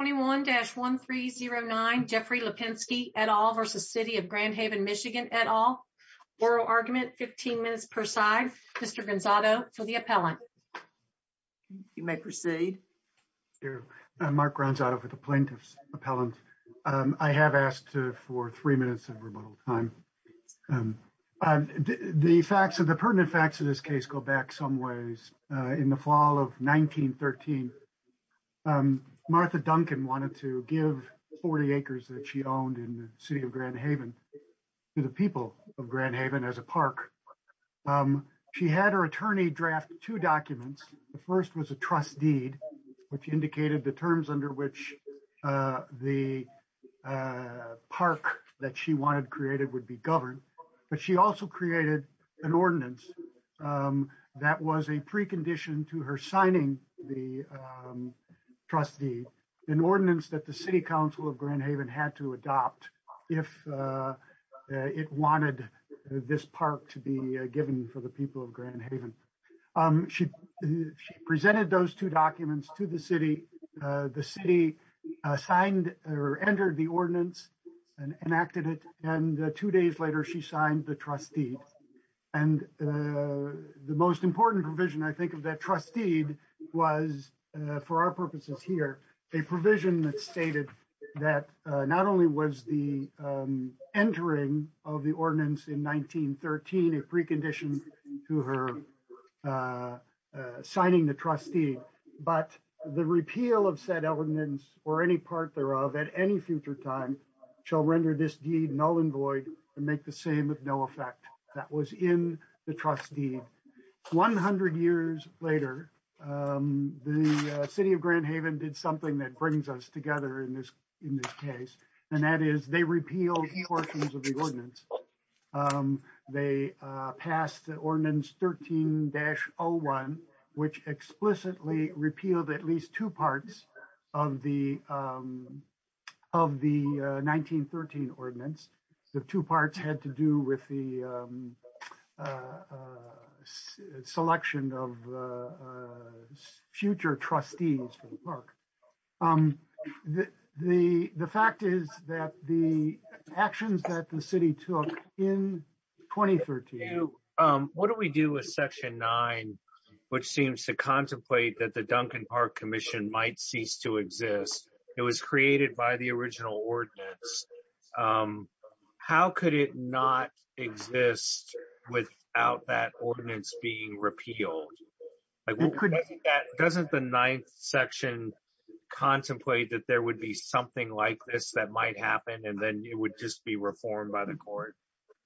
21-1309 Jeffrey Lapinske, et al. v. City of Grand Haven, MI, et al. Oral argument, 15 minutes per side. Mr. Gonzado to the appellant. You may proceed. Mark Gonzado for the plaintiff's appellant. I have asked for three minutes of rebuttal time. The facts, the pertinent facts of this case go back some ways in the fall of 1913. Martha Duncan wanted to give 40 acres that she owned in the city of Grand Haven to the people of Grand Haven as a park. She had her attorney draft two documents. The first was a trust deed which indicated the terms under which the park that she wanted created would be governed, but she also created an ordinance that was a precondition to her signing the trust deed, an ordinance that the city council of Grand Haven had to adopt if it wanted this park to be given for the people of Grand Haven. She presented those two documents to the city. The city signed or entered the ordinance and enacted it, and two days later she signed the trust deed. And the most important provision, I think, of that trust deed was, for our purposes here, a provision that stated that not only was the entering of the ordinance in 1913 a precondition to her signing the trust deed, but the repeal of said ordinance or any part thereof at any future time shall render this deed null and void and make the same with no effect that was in the trust deed. 100 years later, the city of Grand Haven did something that brings us together in this case, and that is they repealed portions of the ordinance. They passed the ordinance 13-01, which explicitly repealed at least two parts of the 1913 ordinance. The two parts had to do with the selection of future trustees for the park. The fact is that the actions that the city took in 2013... What do we do with Section 9, which seems to contemplate that the Duncan Park Commission might cease to exist? It was created by the original ordinance. How could it not exist without that ordinance being repealed? Doesn't the ninth section contemplate that there would be something like this that might happen, and then it would just be reformed by the court?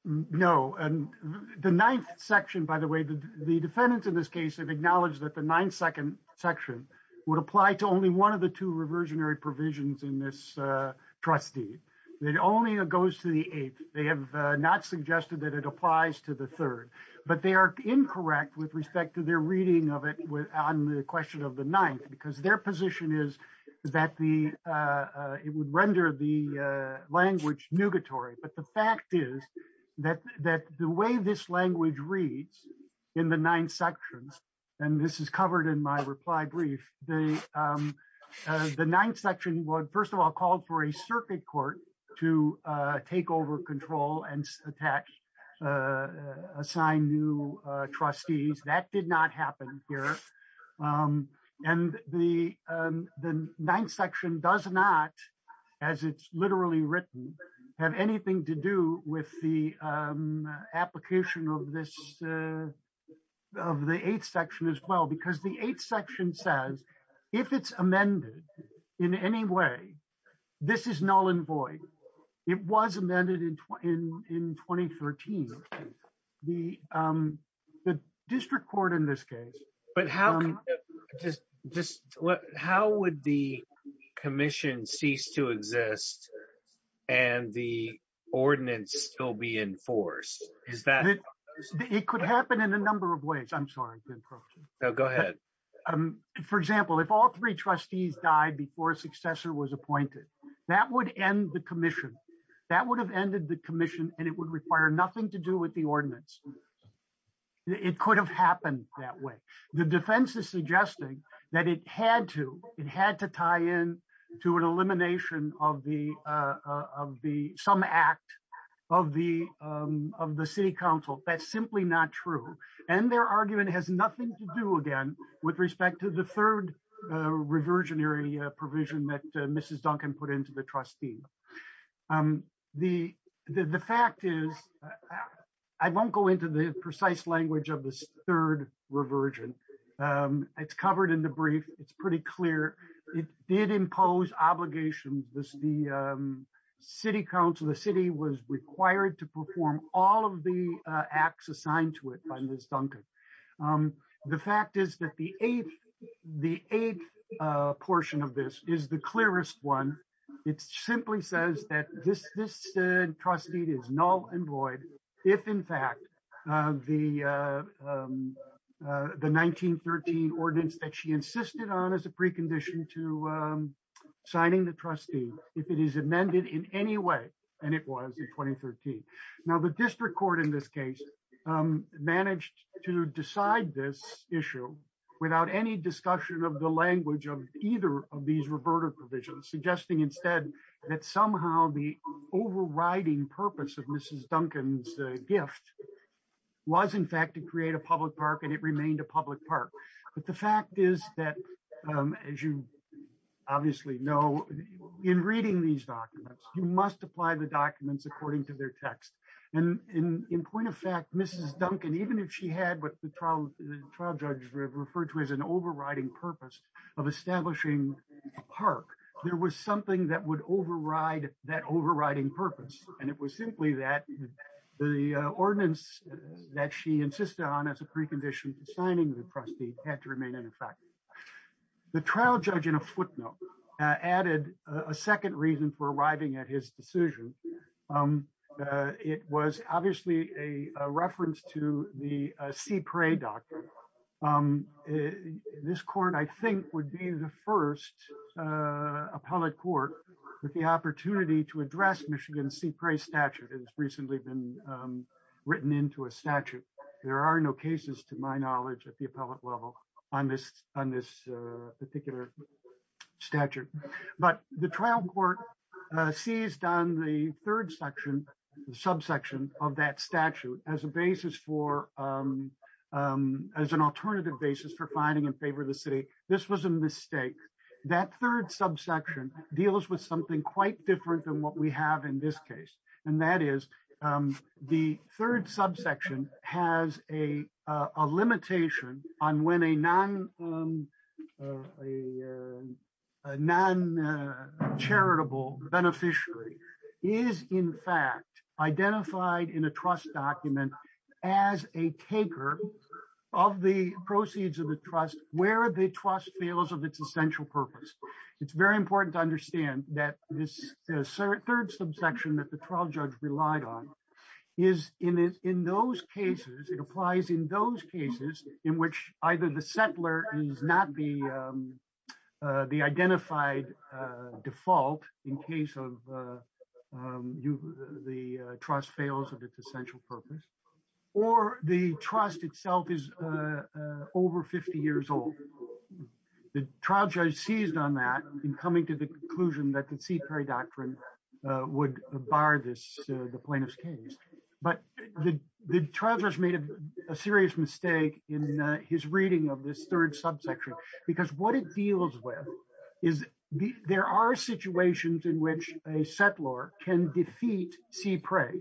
No. The ninth section, by the way, the defendants in this case have acknowledged that the ninth second section would apply to only one of the two reversionary provisions in this trust deed. It only goes to the eighth. They have not suggested that it applies to the third, but they are incorrect with respect to their reading of it on the question of the ninth, because their position is that it would render the language nugatory. But the fact is that the way this language reads in the ninth sections, and this is covered in my reply brief, the ninth section would first of all call for a circuit court to take over control and assign new trustees. That did not happen here. The ninth section does not, as it's literally written, have anything to do with the application of the eighth section as well, because the eighth section says if it's in any way, this is null and void. It was amended in 2013. The district court in this case. But how would the commission cease to exist and the ordinance still be in force? It could happen in a number of ways. I'm sorry. No, go ahead. For example, if all three trustees died before a successor was appointed, that would end the commission. That would have ended the commission and it would require nothing to do with the ordinance. It could have happened that way. The defense is suggesting that it had to. It had to tie in to an elimination of some act of the city council. That's simply not true. And their argument has nothing to do again with respect to the third reversionary provision that Mrs. Duncan put into the trustee. The fact is, I won't go into the precise language of this third reversion. It's covered in the brief. It's pretty clear. It did impose obligations. The city council, the city was required to perform all of the acts assigned to it by Ms. Duncan. The fact is that the eighth portion of this is the clearest one. It simply says that this trustee is null and void. If in fact, the 1913 ordinance that she insisted on as a precondition to signing the trustee, if it is amended in any way, and it was in 2013. Now the district court in this case managed to decide this issue without any discussion of the language of either of these reverted provisions, suggesting instead that somehow the overriding purpose of Mrs. Duncan's gift was in fact to create a public park and it remained a public park. But the fact is that as you obviously know, in reading these documents, you must apply the documents according to their text. And in point of fact, Mrs. Duncan, even if she had what the trial judge referred to as an overriding purpose of establishing a park, there was something that would override that overriding purpose. And it was simply that the ordinance that she insisted on as a precondition to signing the trustee had to remain in effect. The trial judge in a footnote added a second reason for arriving at his decision. It was obviously a reference to the Sea Prey Doctrine. This court, I think would be the first appellate court with the opportunity to address Michigan Sea Prey Statute. It's recently been written into a statute. There are no cases to my knowledge at the appellate level on this particular statute. But the trial court seized on the third subsection of that statute as an alternative basis for finding in favor of the city. This was a mistake. That third subsection deals with something quite different than what we have in this case. And that is the third subsection has a limitation on when a non-charitable beneficiary is in fact identified in a trust document as a taker of the proceeds of the trust where the trust feels of its essential purpose. It's very important to understand that this third subsection that the trial judge relied on is in those cases, it applies in those cases in which either the settler is not the identified default in case of the trust fails of its essential purpose or the trust itself is over 50 years old. The trial judge seized on that in coming to the bar this plaintiff's case. But the trial judge made a serious mistake in his reading of this third subsection because what it deals with is there are situations in which a settler can defeat sea prey.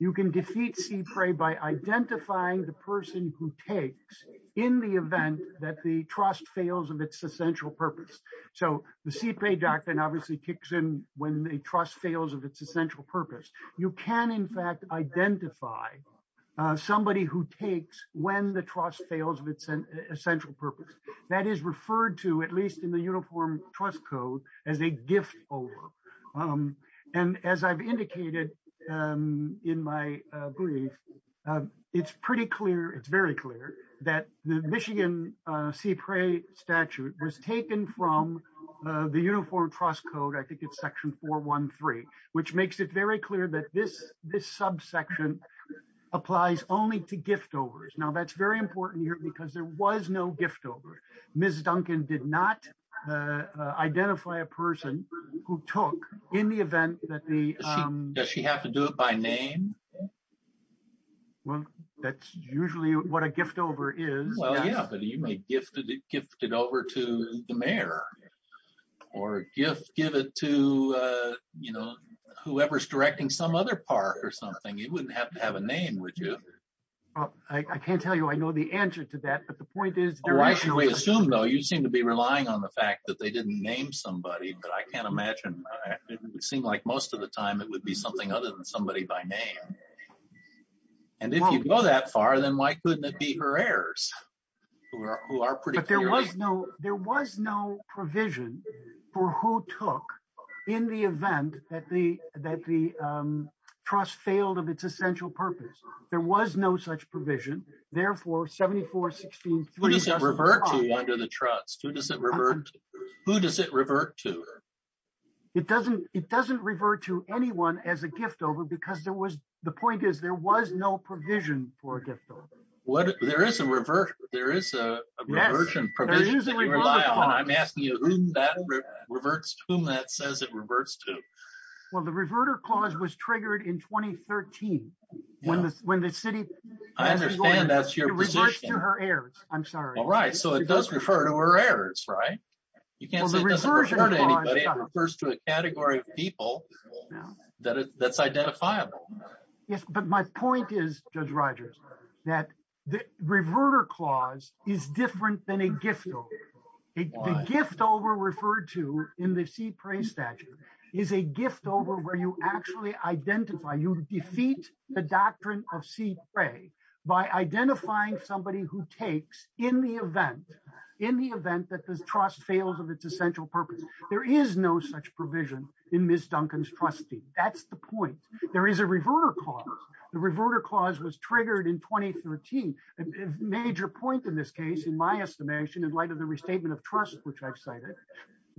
You can defeat sea prey by identifying the person who takes in the event that the trust fails of its essential purpose. So the Sea Prey Doctrine obviously kicks in when a trust fails of its essential purpose. You can in fact identify somebody who takes when the trust fails of its essential purpose. That is referred to at least in the Uniform Trust Code as a gift over. And as I've indicated in my brief, it's pretty clear, it's very clear that the Michigan Sea Prey Statute was taken from the Uniform Trust Code, I think it's section 413, which makes it very clear that this subsection applies only to gift overs. Now that's very important here because there was no gift over. Ms. Duncan did not identify a person who took in the event that the... Does she have to do it by name? Well, that's usually what a gift over is. Well, yeah, but you may gift it over to the mayor or give it to, you know, whoever's directing some other park or something. It wouldn't have to have a name, would you? I can't tell you, I know the answer to that, but the point is... Why should we assume though? You seem to be relying on the fact that they didn't name somebody, but I can't tell you. And if you go that far, then why couldn't it be her heirs who are pretty clear? But there was no provision for who took in the event that the trust failed of its essential purpose. There was no such provision, therefore 7416... Who does it revert to under the trust? Who does it revert to? It doesn't revert to anyone as a gift over because there was point is there was no provision for a gift over. There is a reversion provision that you rely on, and I'm asking you whom that reverts to, whom that says it reverts to. Well, the reverter clause was triggered in 2013 when the city... I understand that's your position. It reverts to her heirs, I'm sorry. All right, so it does refer to her heirs, right? You can't say it doesn't refer to anybody, it refers to a category of people that's identifiable. Yes, but my point is, Judge Rogers, that the reverter clause is different than a gift over. A gift over referred to in the sea prey statute is a gift over where you actually identify, you defeat the doctrine of sea prey by identifying somebody who takes in the event, in the event that this trust fails of its essential purpose. There is no such provision in Ms. Duncan's trustee. That's the point. There is a reverter clause. The reverter clause was triggered in 2013. A major point in this case, in my estimation, in light of the restatement of trust which I've cited,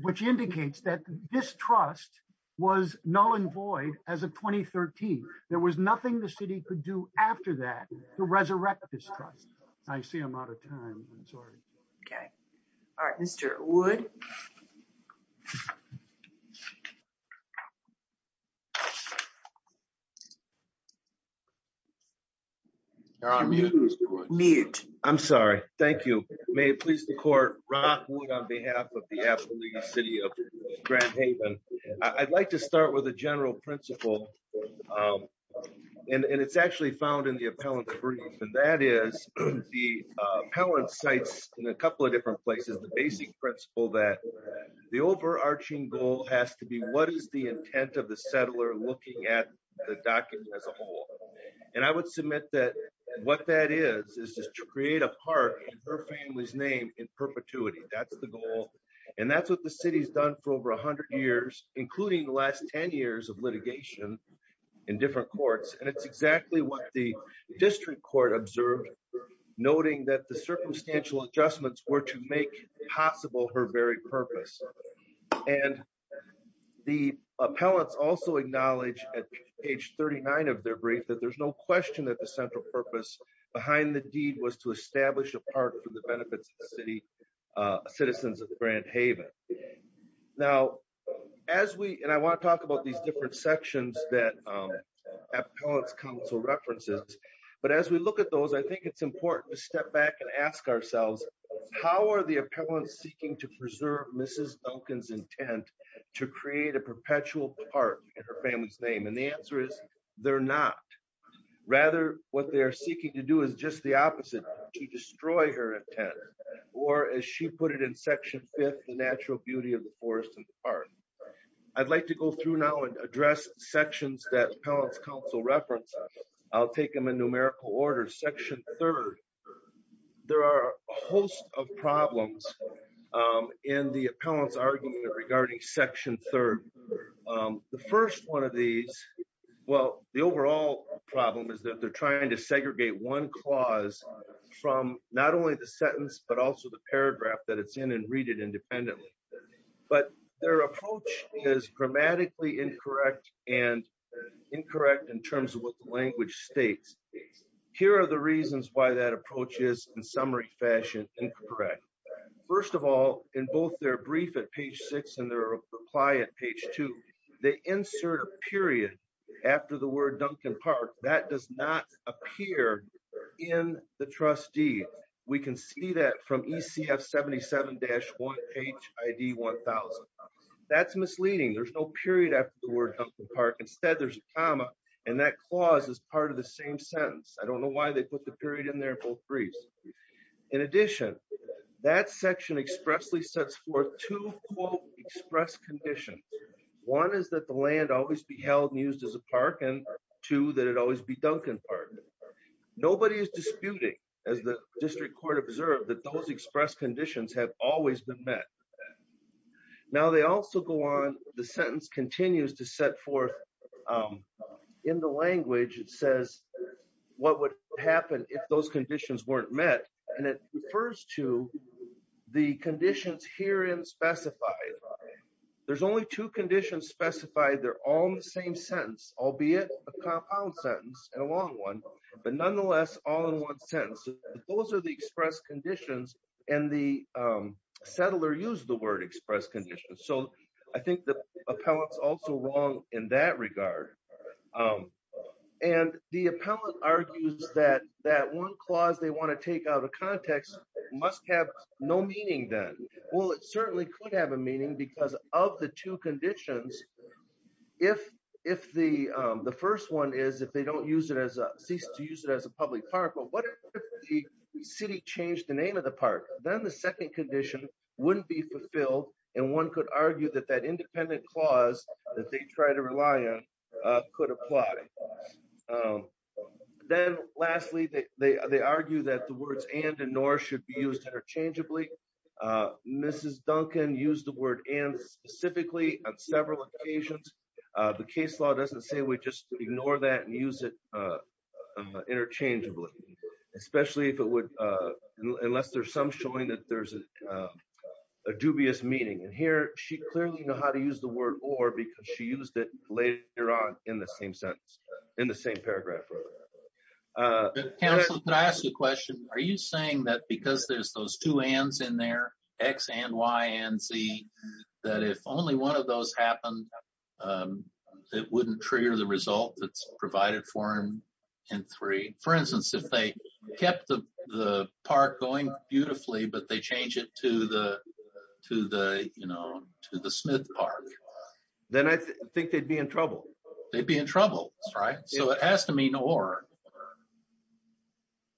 which indicates that this trust was null and void as of 2013. There was nothing the city could do after that to resurrect this trust. I see I'm out of time, I'm sorry. Okay, all right, Mr. Wood. Mute. I'm sorry, thank you. May it please the court, Ron Wood on behalf of the Appalachian City of Grand Haven. I'd like to start with a general principle and it's actually found in the appellant's brief and that is the appellant cites in a couple of different places the basic principle that the overarching goal has to be what is the intent of the settler looking at the document as a whole. And I would submit that what that is, is just to create a part in her family's name in perpetuity. That's the goal and that's what the city's done for over 100 years, including the last 10 years of litigation in different courts. And it's exactly what the district court observed, noting that the circumstantial adjustments were to make possible her very purpose. And the appellants also acknowledge at page 39 of their brief that there's no question that the central purpose behind the was to establish a part for the benefits of the city citizens of Grand Haven. Now, as we, and I want to talk about these different sections that appellants counsel references, but as we look at those, I think it's important to step back and ask ourselves, how are the appellants seeking to preserve Mrs. Duncan's intent to create a perpetual part in her to destroy her intent? Or as she put it in section fifth, the natural beauty of the forest and park. I'd like to go through now and address sections that appellants counsel reference. I'll take them in numerical order. Section third, there are a host of problems in the appellants argument regarding section third. The first one of these, well, the overall problem is that they're from not only the sentence, but also the paragraph that it's in and read it independently, but their approach is grammatically incorrect and incorrect in terms of what the language states. Here are the reasons why that approach is in summary fashion, incorrect. First of all, in both their brief at page six and their reply at page two, they insert a period after the word that does not appear in the trustee. We can see that from ECF 77-1 HID 1000. That's misleading. There's no period after the word Duncan Park. Instead there's a comma and that clause is part of the same sentence. I don't know why they put the period in there in both briefs. In addition, that section expressly sets forth two quote express conditions. One is that the land always be held and used as a park and two, that it always be Duncan Park. Nobody is disputing, as the district court observed, that those express conditions have always been met. Now they also go on, the sentence continues to set forth in the language, it says what would happen if those conditions weren't met. And it refers to the conditions here in specified. There's only two conditions specified. They're all in the same sentence, albeit a compound sentence, a long one, but nonetheless all in one sentence. Those are the express conditions and the settler used the word express conditions. So I think the appellant's also wrong in that regard. And the appellant argues that that one clause they want to take out of context must have no meaning then. Well, it certainly could have a meaning because of the two conditions. If the first one is, if they don't use it as a, cease to use it as a public park, but what if the city changed the name of the park? Then the second condition wouldn't be fulfilled and one could argue that that independent clause that they try to rely on could apply. And then lastly, they argue that the words and and nor should be used interchangeably. Mrs. Duncan used the word and specifically on several occasions. The case law doesn't say we just ignore that and use it interchangeably, especially if it would, unless there's some showing that there's a dubious meaning. And here she clearly knew how to use the word or because she used it later on in the same sentence, in the same paragraph. Counselor, could I ask you a question? Are you saying that because there's those two ands in there, X and Y and Z, that if only one of those happened, it wouldn't trigger the result that's provided for him in three? For instance, if they kept the park going beautifully, but they change it to the Smith Park, then I think they'd be in trouble. They'd be in trouble, right? So it has to mean or.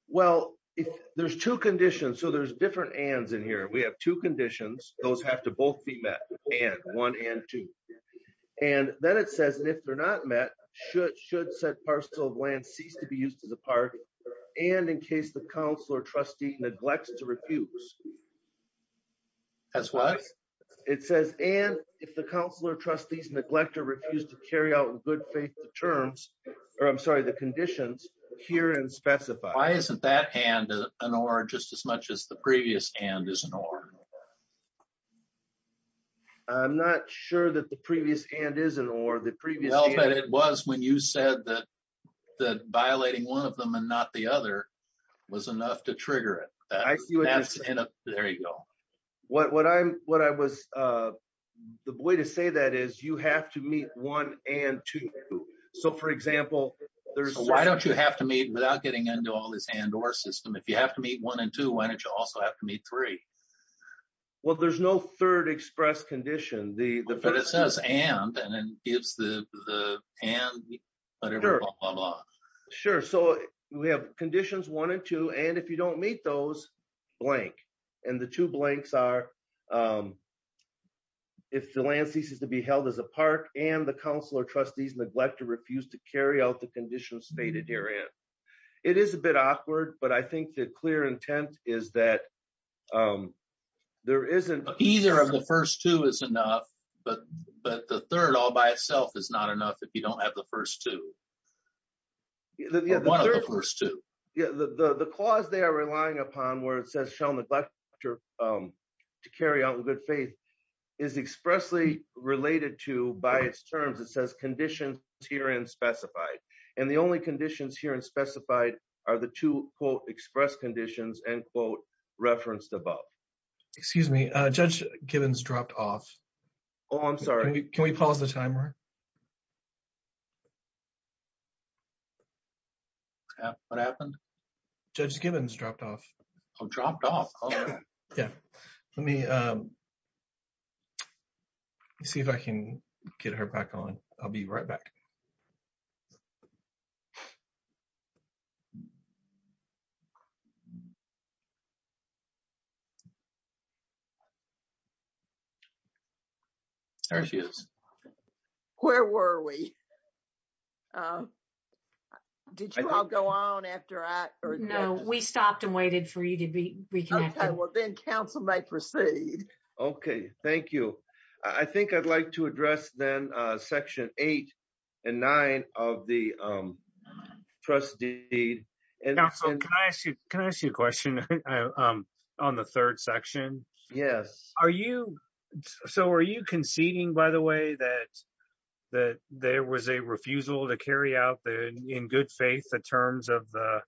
Well, there's two conditions. So there's different ands in here. We have two conditions. Those have to both be met, and one and two. And then it says if they're not met, should said parcel of land cease to be used as a park and in case the council or trustee neglects to refuse. That's what it says. And if the council or trustees neglect or refuse to carry out in good faith the terms, or I'm sorry, the conditions here and specify. Why isn't that and an or just as much as the previous and is an or? I'm not sure that the previous and is an or. Well, but it was when you said that violating one of them and not the other was enough to trigger it. I see there you go. What I was, the way to say that is you have to meet one and two. So for example, there's. Why don't you have to meet without getting into all this and or system? If you have to meet one and two, why don't you also have to meet three? Well, there's no third express condition. But it says and and then gives the and whatever. Sure. So we have conditions one and two. And if you don't meet those blank and the two blanks are. If the land ceases to be held as a park and the council or trustees neglect to refuse to carry out the conditions stated here and it is a bit awkward, but I think the clear intent is that there isn't either of the first two is enough, but but the third all by itself is not enough if you don't have the first two. Yeah, the the the cause they are relying upon where it says shall neglect after to carry out with good faith is expressly related to by its terms. It says conditions here in specified and the only conditions here in specified are the two quote express conditions and quote referenced above. Excuse me, Judge Gibbons dropped off. Oh, I'm sorry. Can we pause the what happened? Judge Gibbons dropped off. I'm dropped off. Yeah, let me see if I can get her back on. I'll be right back. There she is. Where were we? Did you all go on after I heard? No, we stopped and waited for you to be reconnected. Well, then Council may proceed. Okay, thank you. I think I'd like to address then section eight and nine of the trust deed. And so can I ask you, can I ask you a question? On the third section? Yes. Are you so are you conceding by the way that that there was a refusal to carry out the in good faith the terms of the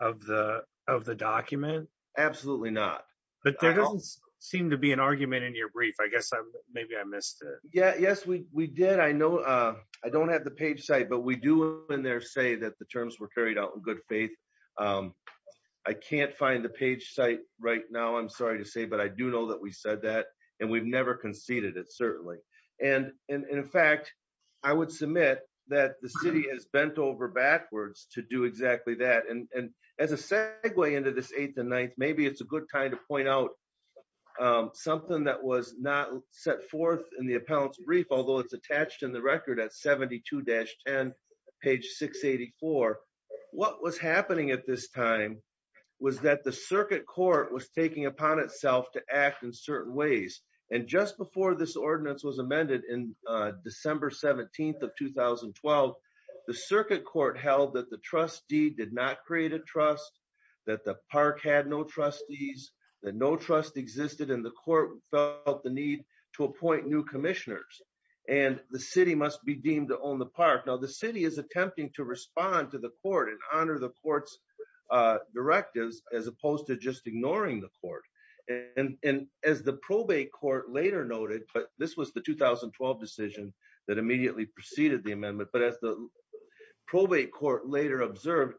of the of the document? Absolutely not. But there doesn't seem to be an argument in your brief. I guess maybe I missed it. Yes, we did. I know. I don't have the page site, but we do in there say that the terms were carried out in good faith. I can't find the page site right now. I'm sorry to say, but I do know that we said that and we've never conceded it certainly. And in fact, I would submit that the city has bent over backwards to do exactly that. And as a segue into this eighth and ninth, maybe it's a set forth in the appellant's brief, although it's attached in the record at 72 dash 10, page 684. What was happening at this time was that the circuit court was taking upon itself to act in certain ways. And just before this ordinance was amended in December 17th of 2012, the circuit court held that the trustee did not create a trust, that the park had no trustees, that no trust existed and the court felt the need to appoint new commissioners and the city must be deemed to own the park. Now the city is attempting to respond to the court and honor the court's directives as opposed to just ignoring the court. And as the probate court later noted, but this was the 2012 decision that immediately preceded the amendment. But as the court later observed,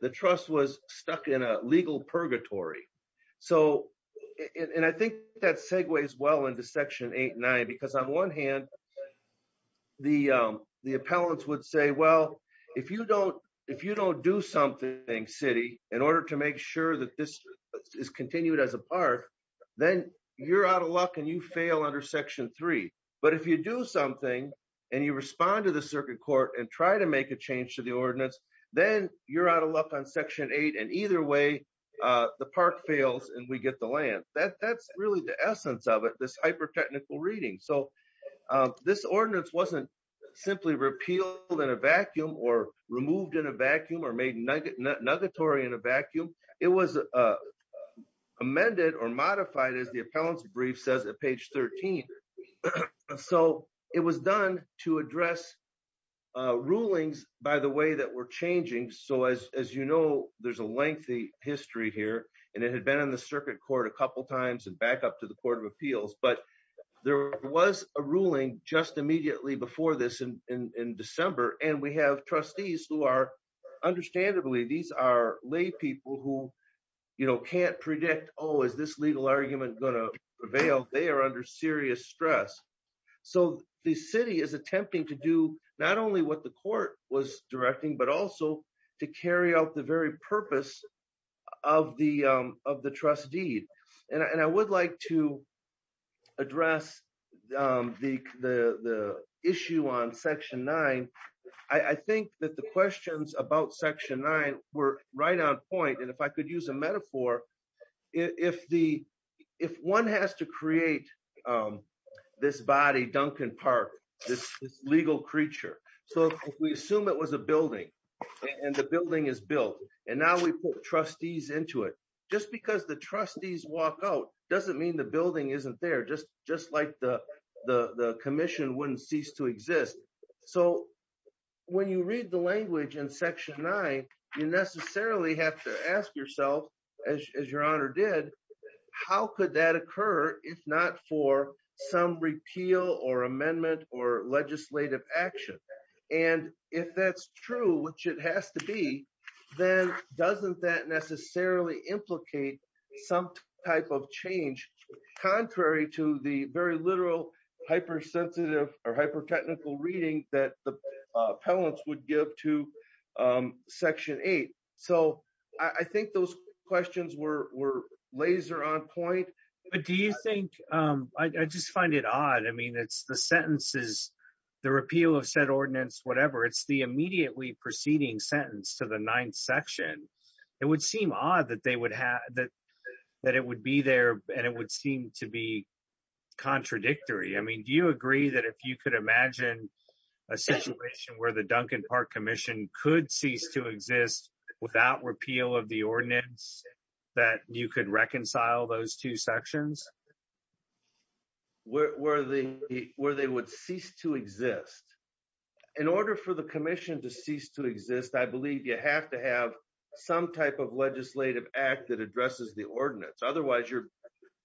the trust was stuck in a legal purgatory. And I think that segues well into section eight and nine, because on one hand, the appellants would say, well, if you don't do something city in order to make sure that this is continued as a park, then you're out of luck and you fail under section three. But if you do something and you respond to the circuit court and try to make a change to the ordinance, then you're out of luck on section eight and either way the park fails and we get the land. That's really the essence of it, this hyper-technical reading. So this ordinance wasn't simply repealed in a vacuum or removed in a vacuum or made nuggetory in a vacuum. It was amended or modified as the appellants brief says at page 13. And so it was done to address rulings by the way that were changing. So as you know, there's a lengthy history here and it had been in the circuit court a couple of times and back up to the court of appeals, but there was a ruling just immediately before this in December. And we have trustees who are understandably, these are lay people who can't predict, oh, is this legal argument going to prevail? They are under serious stress. So the city is attempting to do not only what the court was directing, but also to carry out the very purpose of the trustee. And I would like to address the issue on section nine. I think that the questions about section nine were right on point. And if I could use a metaphor, if one has to create this body, Duncan Park, this legal creature. So if we assume it was a building and the building is built and now we put trustees into it, just because the trustees walk out doesn't mean the building isn't there. Just like the commission wouldn't cease to exist. So when you read the language in section nine, you necessarily have to ask yourself as your honor did, how could that occur if not for some repeal or amendment or legislative action? And if that's true, which it has to be, then doesn't that necessarily implicate some type of change contrary to the very literal hypersensitive or hyper-technical reading that the appellants would give to section eight? So I think those questions were laser on point. But do you think, I just find it odd. I mean, it's the sentences, the repeal of said ordinance, whatever, it's the immediately preceding sentence to the ninth section. It would seem odd that they would have, that it would be there and it would seem to be contradictory. I mean, do you agree that if you could imagine a situation where the Duncan Park Commission could cease to exist without repeal of the ordinance, that you could reconcile those two sections? Where they would cease to exist. In order for the commission to cease to exist, I believe you have to have some type of legislative act that addresses the ordinance. Otherwise you're,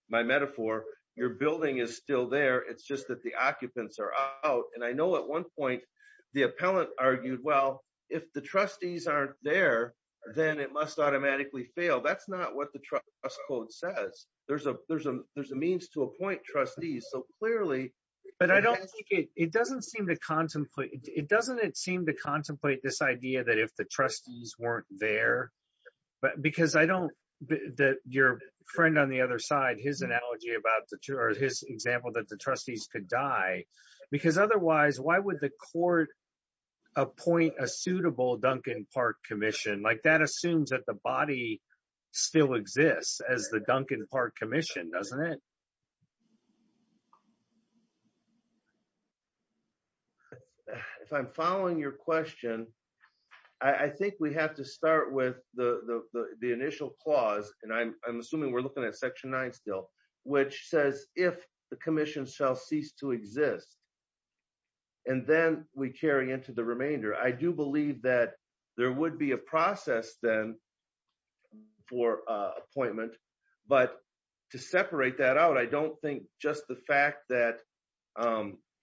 my metaphor, your building is still there. It's just that the occupants are out. And I know at one point the appellant argued, well, if the trustees aren't there, then it must automatically fail. That's not what the trust code says. There's a means to appoint trustees. So clearly- But I don't think it, it doesn't seem to contemplate, it doesn't seem to contemplate this idea that if the trustees weren't there, but because I don't, that your friend on the other side, his analogy about the two, or his example that the trustees could die, because otherwise why would the court appoint a suitable Duncan Park Commission? Like that assumes that the body still exists as the Duncan Park Commission, doesn't it? If I'm following your question, I think we have to start with the initial clause. And I'm assuming we're looking at section nine still, which says, if the commission shall cease to exist, and then we carry into the remainder, I do believe that there would be a process then for appointment. But to separate that out, I don't think just the fact that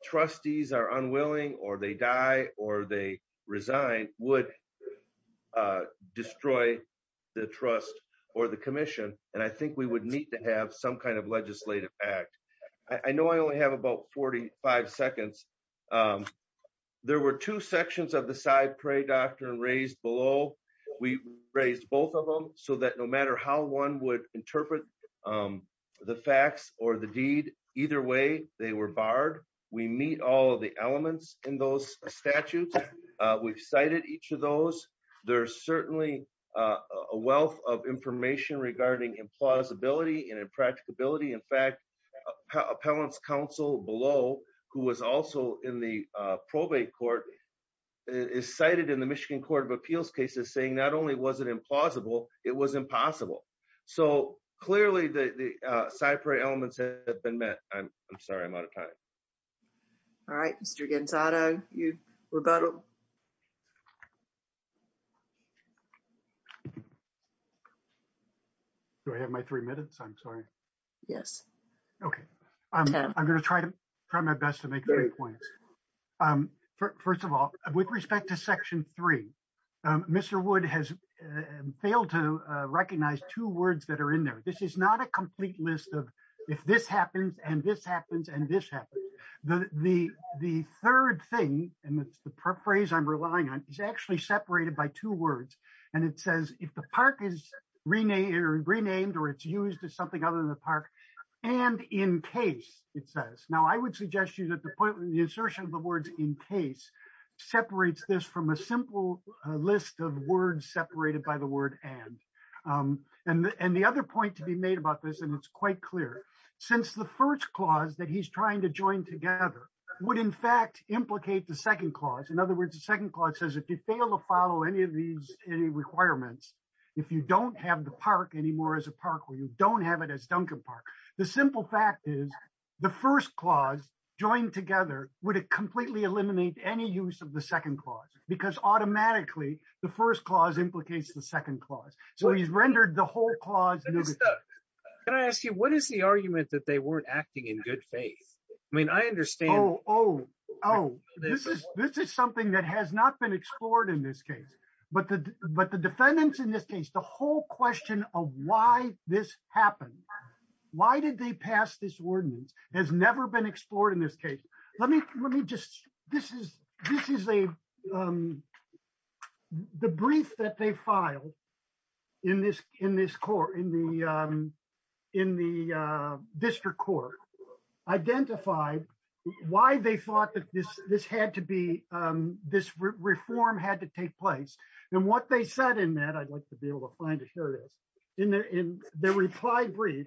trustees are unwilling, or they die, or they resign would destroy the trust or the commission. And I think we would need to have some kind of legislative act. I know I only have about 45 seconds. There were two sections of the side pray doctrine raised below. We raised both of them so that no matter how one would interpret the facts or the deed, either way, they were barred. We meet all of the elements in those statutes. We've cited each of those. There's certainly a wealth of information regarding implausibility and impracticability. In fact, appellant's counsel below, who was also in the probate court, is cited in the Michigan Court of Appeals cases saying not only was it implausible, it was impossible. So clearly, the side pray elements have been met. I'm sorry, I'm out of time. All right, Mr. Gonzaga, your rebuttal. Do I have my three minutes? I'm sorry. Yes. Okay. I'm going to try my best to make three points. First of all, with respect to section three, Mr. Wood has failed to recognize two words that are in there. This is not a complete list of if this happens, and this happens, and this happens. The third thing, and it's the phrase I'm relying on, is actually separated by two words. It says, if the park is renamed or it's used as something other than the park, and in case, it says. Now, I would suggest you that the assertion of the words in case separates this from a simple list of words separated by the word and. The other point to be made about this, and it's quite clear, since the first clause that he's trying to join together would, in fact, implicate the second clause. In other words, the second clause says, if you fail to follow any of these requirements, if you don't have the park anymore as a park, or you don't have it as Duncan Park, the simple fact is the first clause joined together would completely eliminate any use of the first clause implicates the second clause. So, he's rendered the whole clause. Can I ask you, what is the argument that they weren't acting in good faith? I mean, I understand. Oh, this is something that has not been explored in this case, but the defendants in this case, the whole question of why this happened, why did they pass this ordinance has never been explored in this case. Let me just, this is a um, the brief that they filed in this, in this court, in the um, in the uh, district court, identified why they thought that this, this had to be um, this reform had to take place. And what they said in that, I'd like to be able to find to share this, in their reply brief,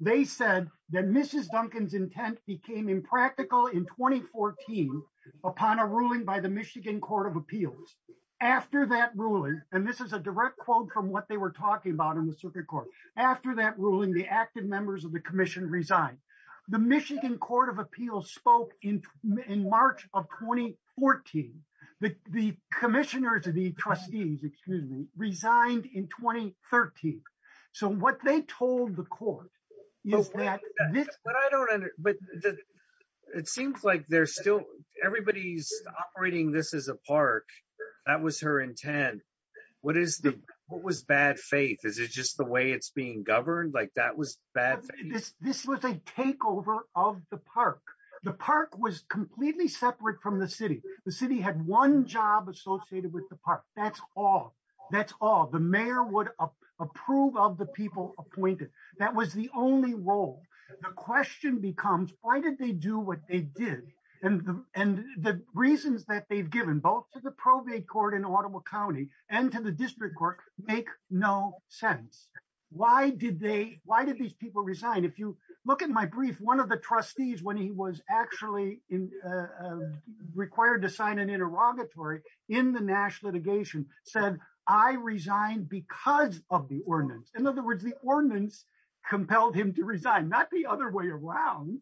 they said that Mrs. Duncan's intent became impractical in 2014 upon a ruling by the Michigan Court of Appeals. After that ruling, and this is a direct quote from what they were talking about in the circuit court, after that ruling, the active members of the commission resigned. The Michigan Court of Appeals spoke in, in March of 2014, the commissioners of the court. But I don't under, but it seems like they're still, everybody's operating this as a park. That was her intent. What is the, what was bad faith? Is it just the way it's being governed? Like that was bad. This, this was a takeover of the park. The park was completely separate from the city. The city had one job associated with the park. That's all, that's all. The mayor would approve of the people appointed. That was the only role. The question becomes, why did they do what they did? And the, and the reasons that they've given both to the probate court in Ottawa County and to the district court, make no sense. Why did they, why did these people resign? If you look at my brief, one of the trustees, when he was actually in, uh, required to sign an of the ordinance. In other words, the ordinance compelled him to resign, not the other way around.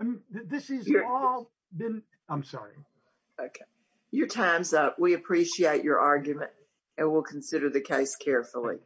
I mean, this is all been, I'm sorry. Okay. Your time's up. We appreciate your argument and we'll consider the case carefully.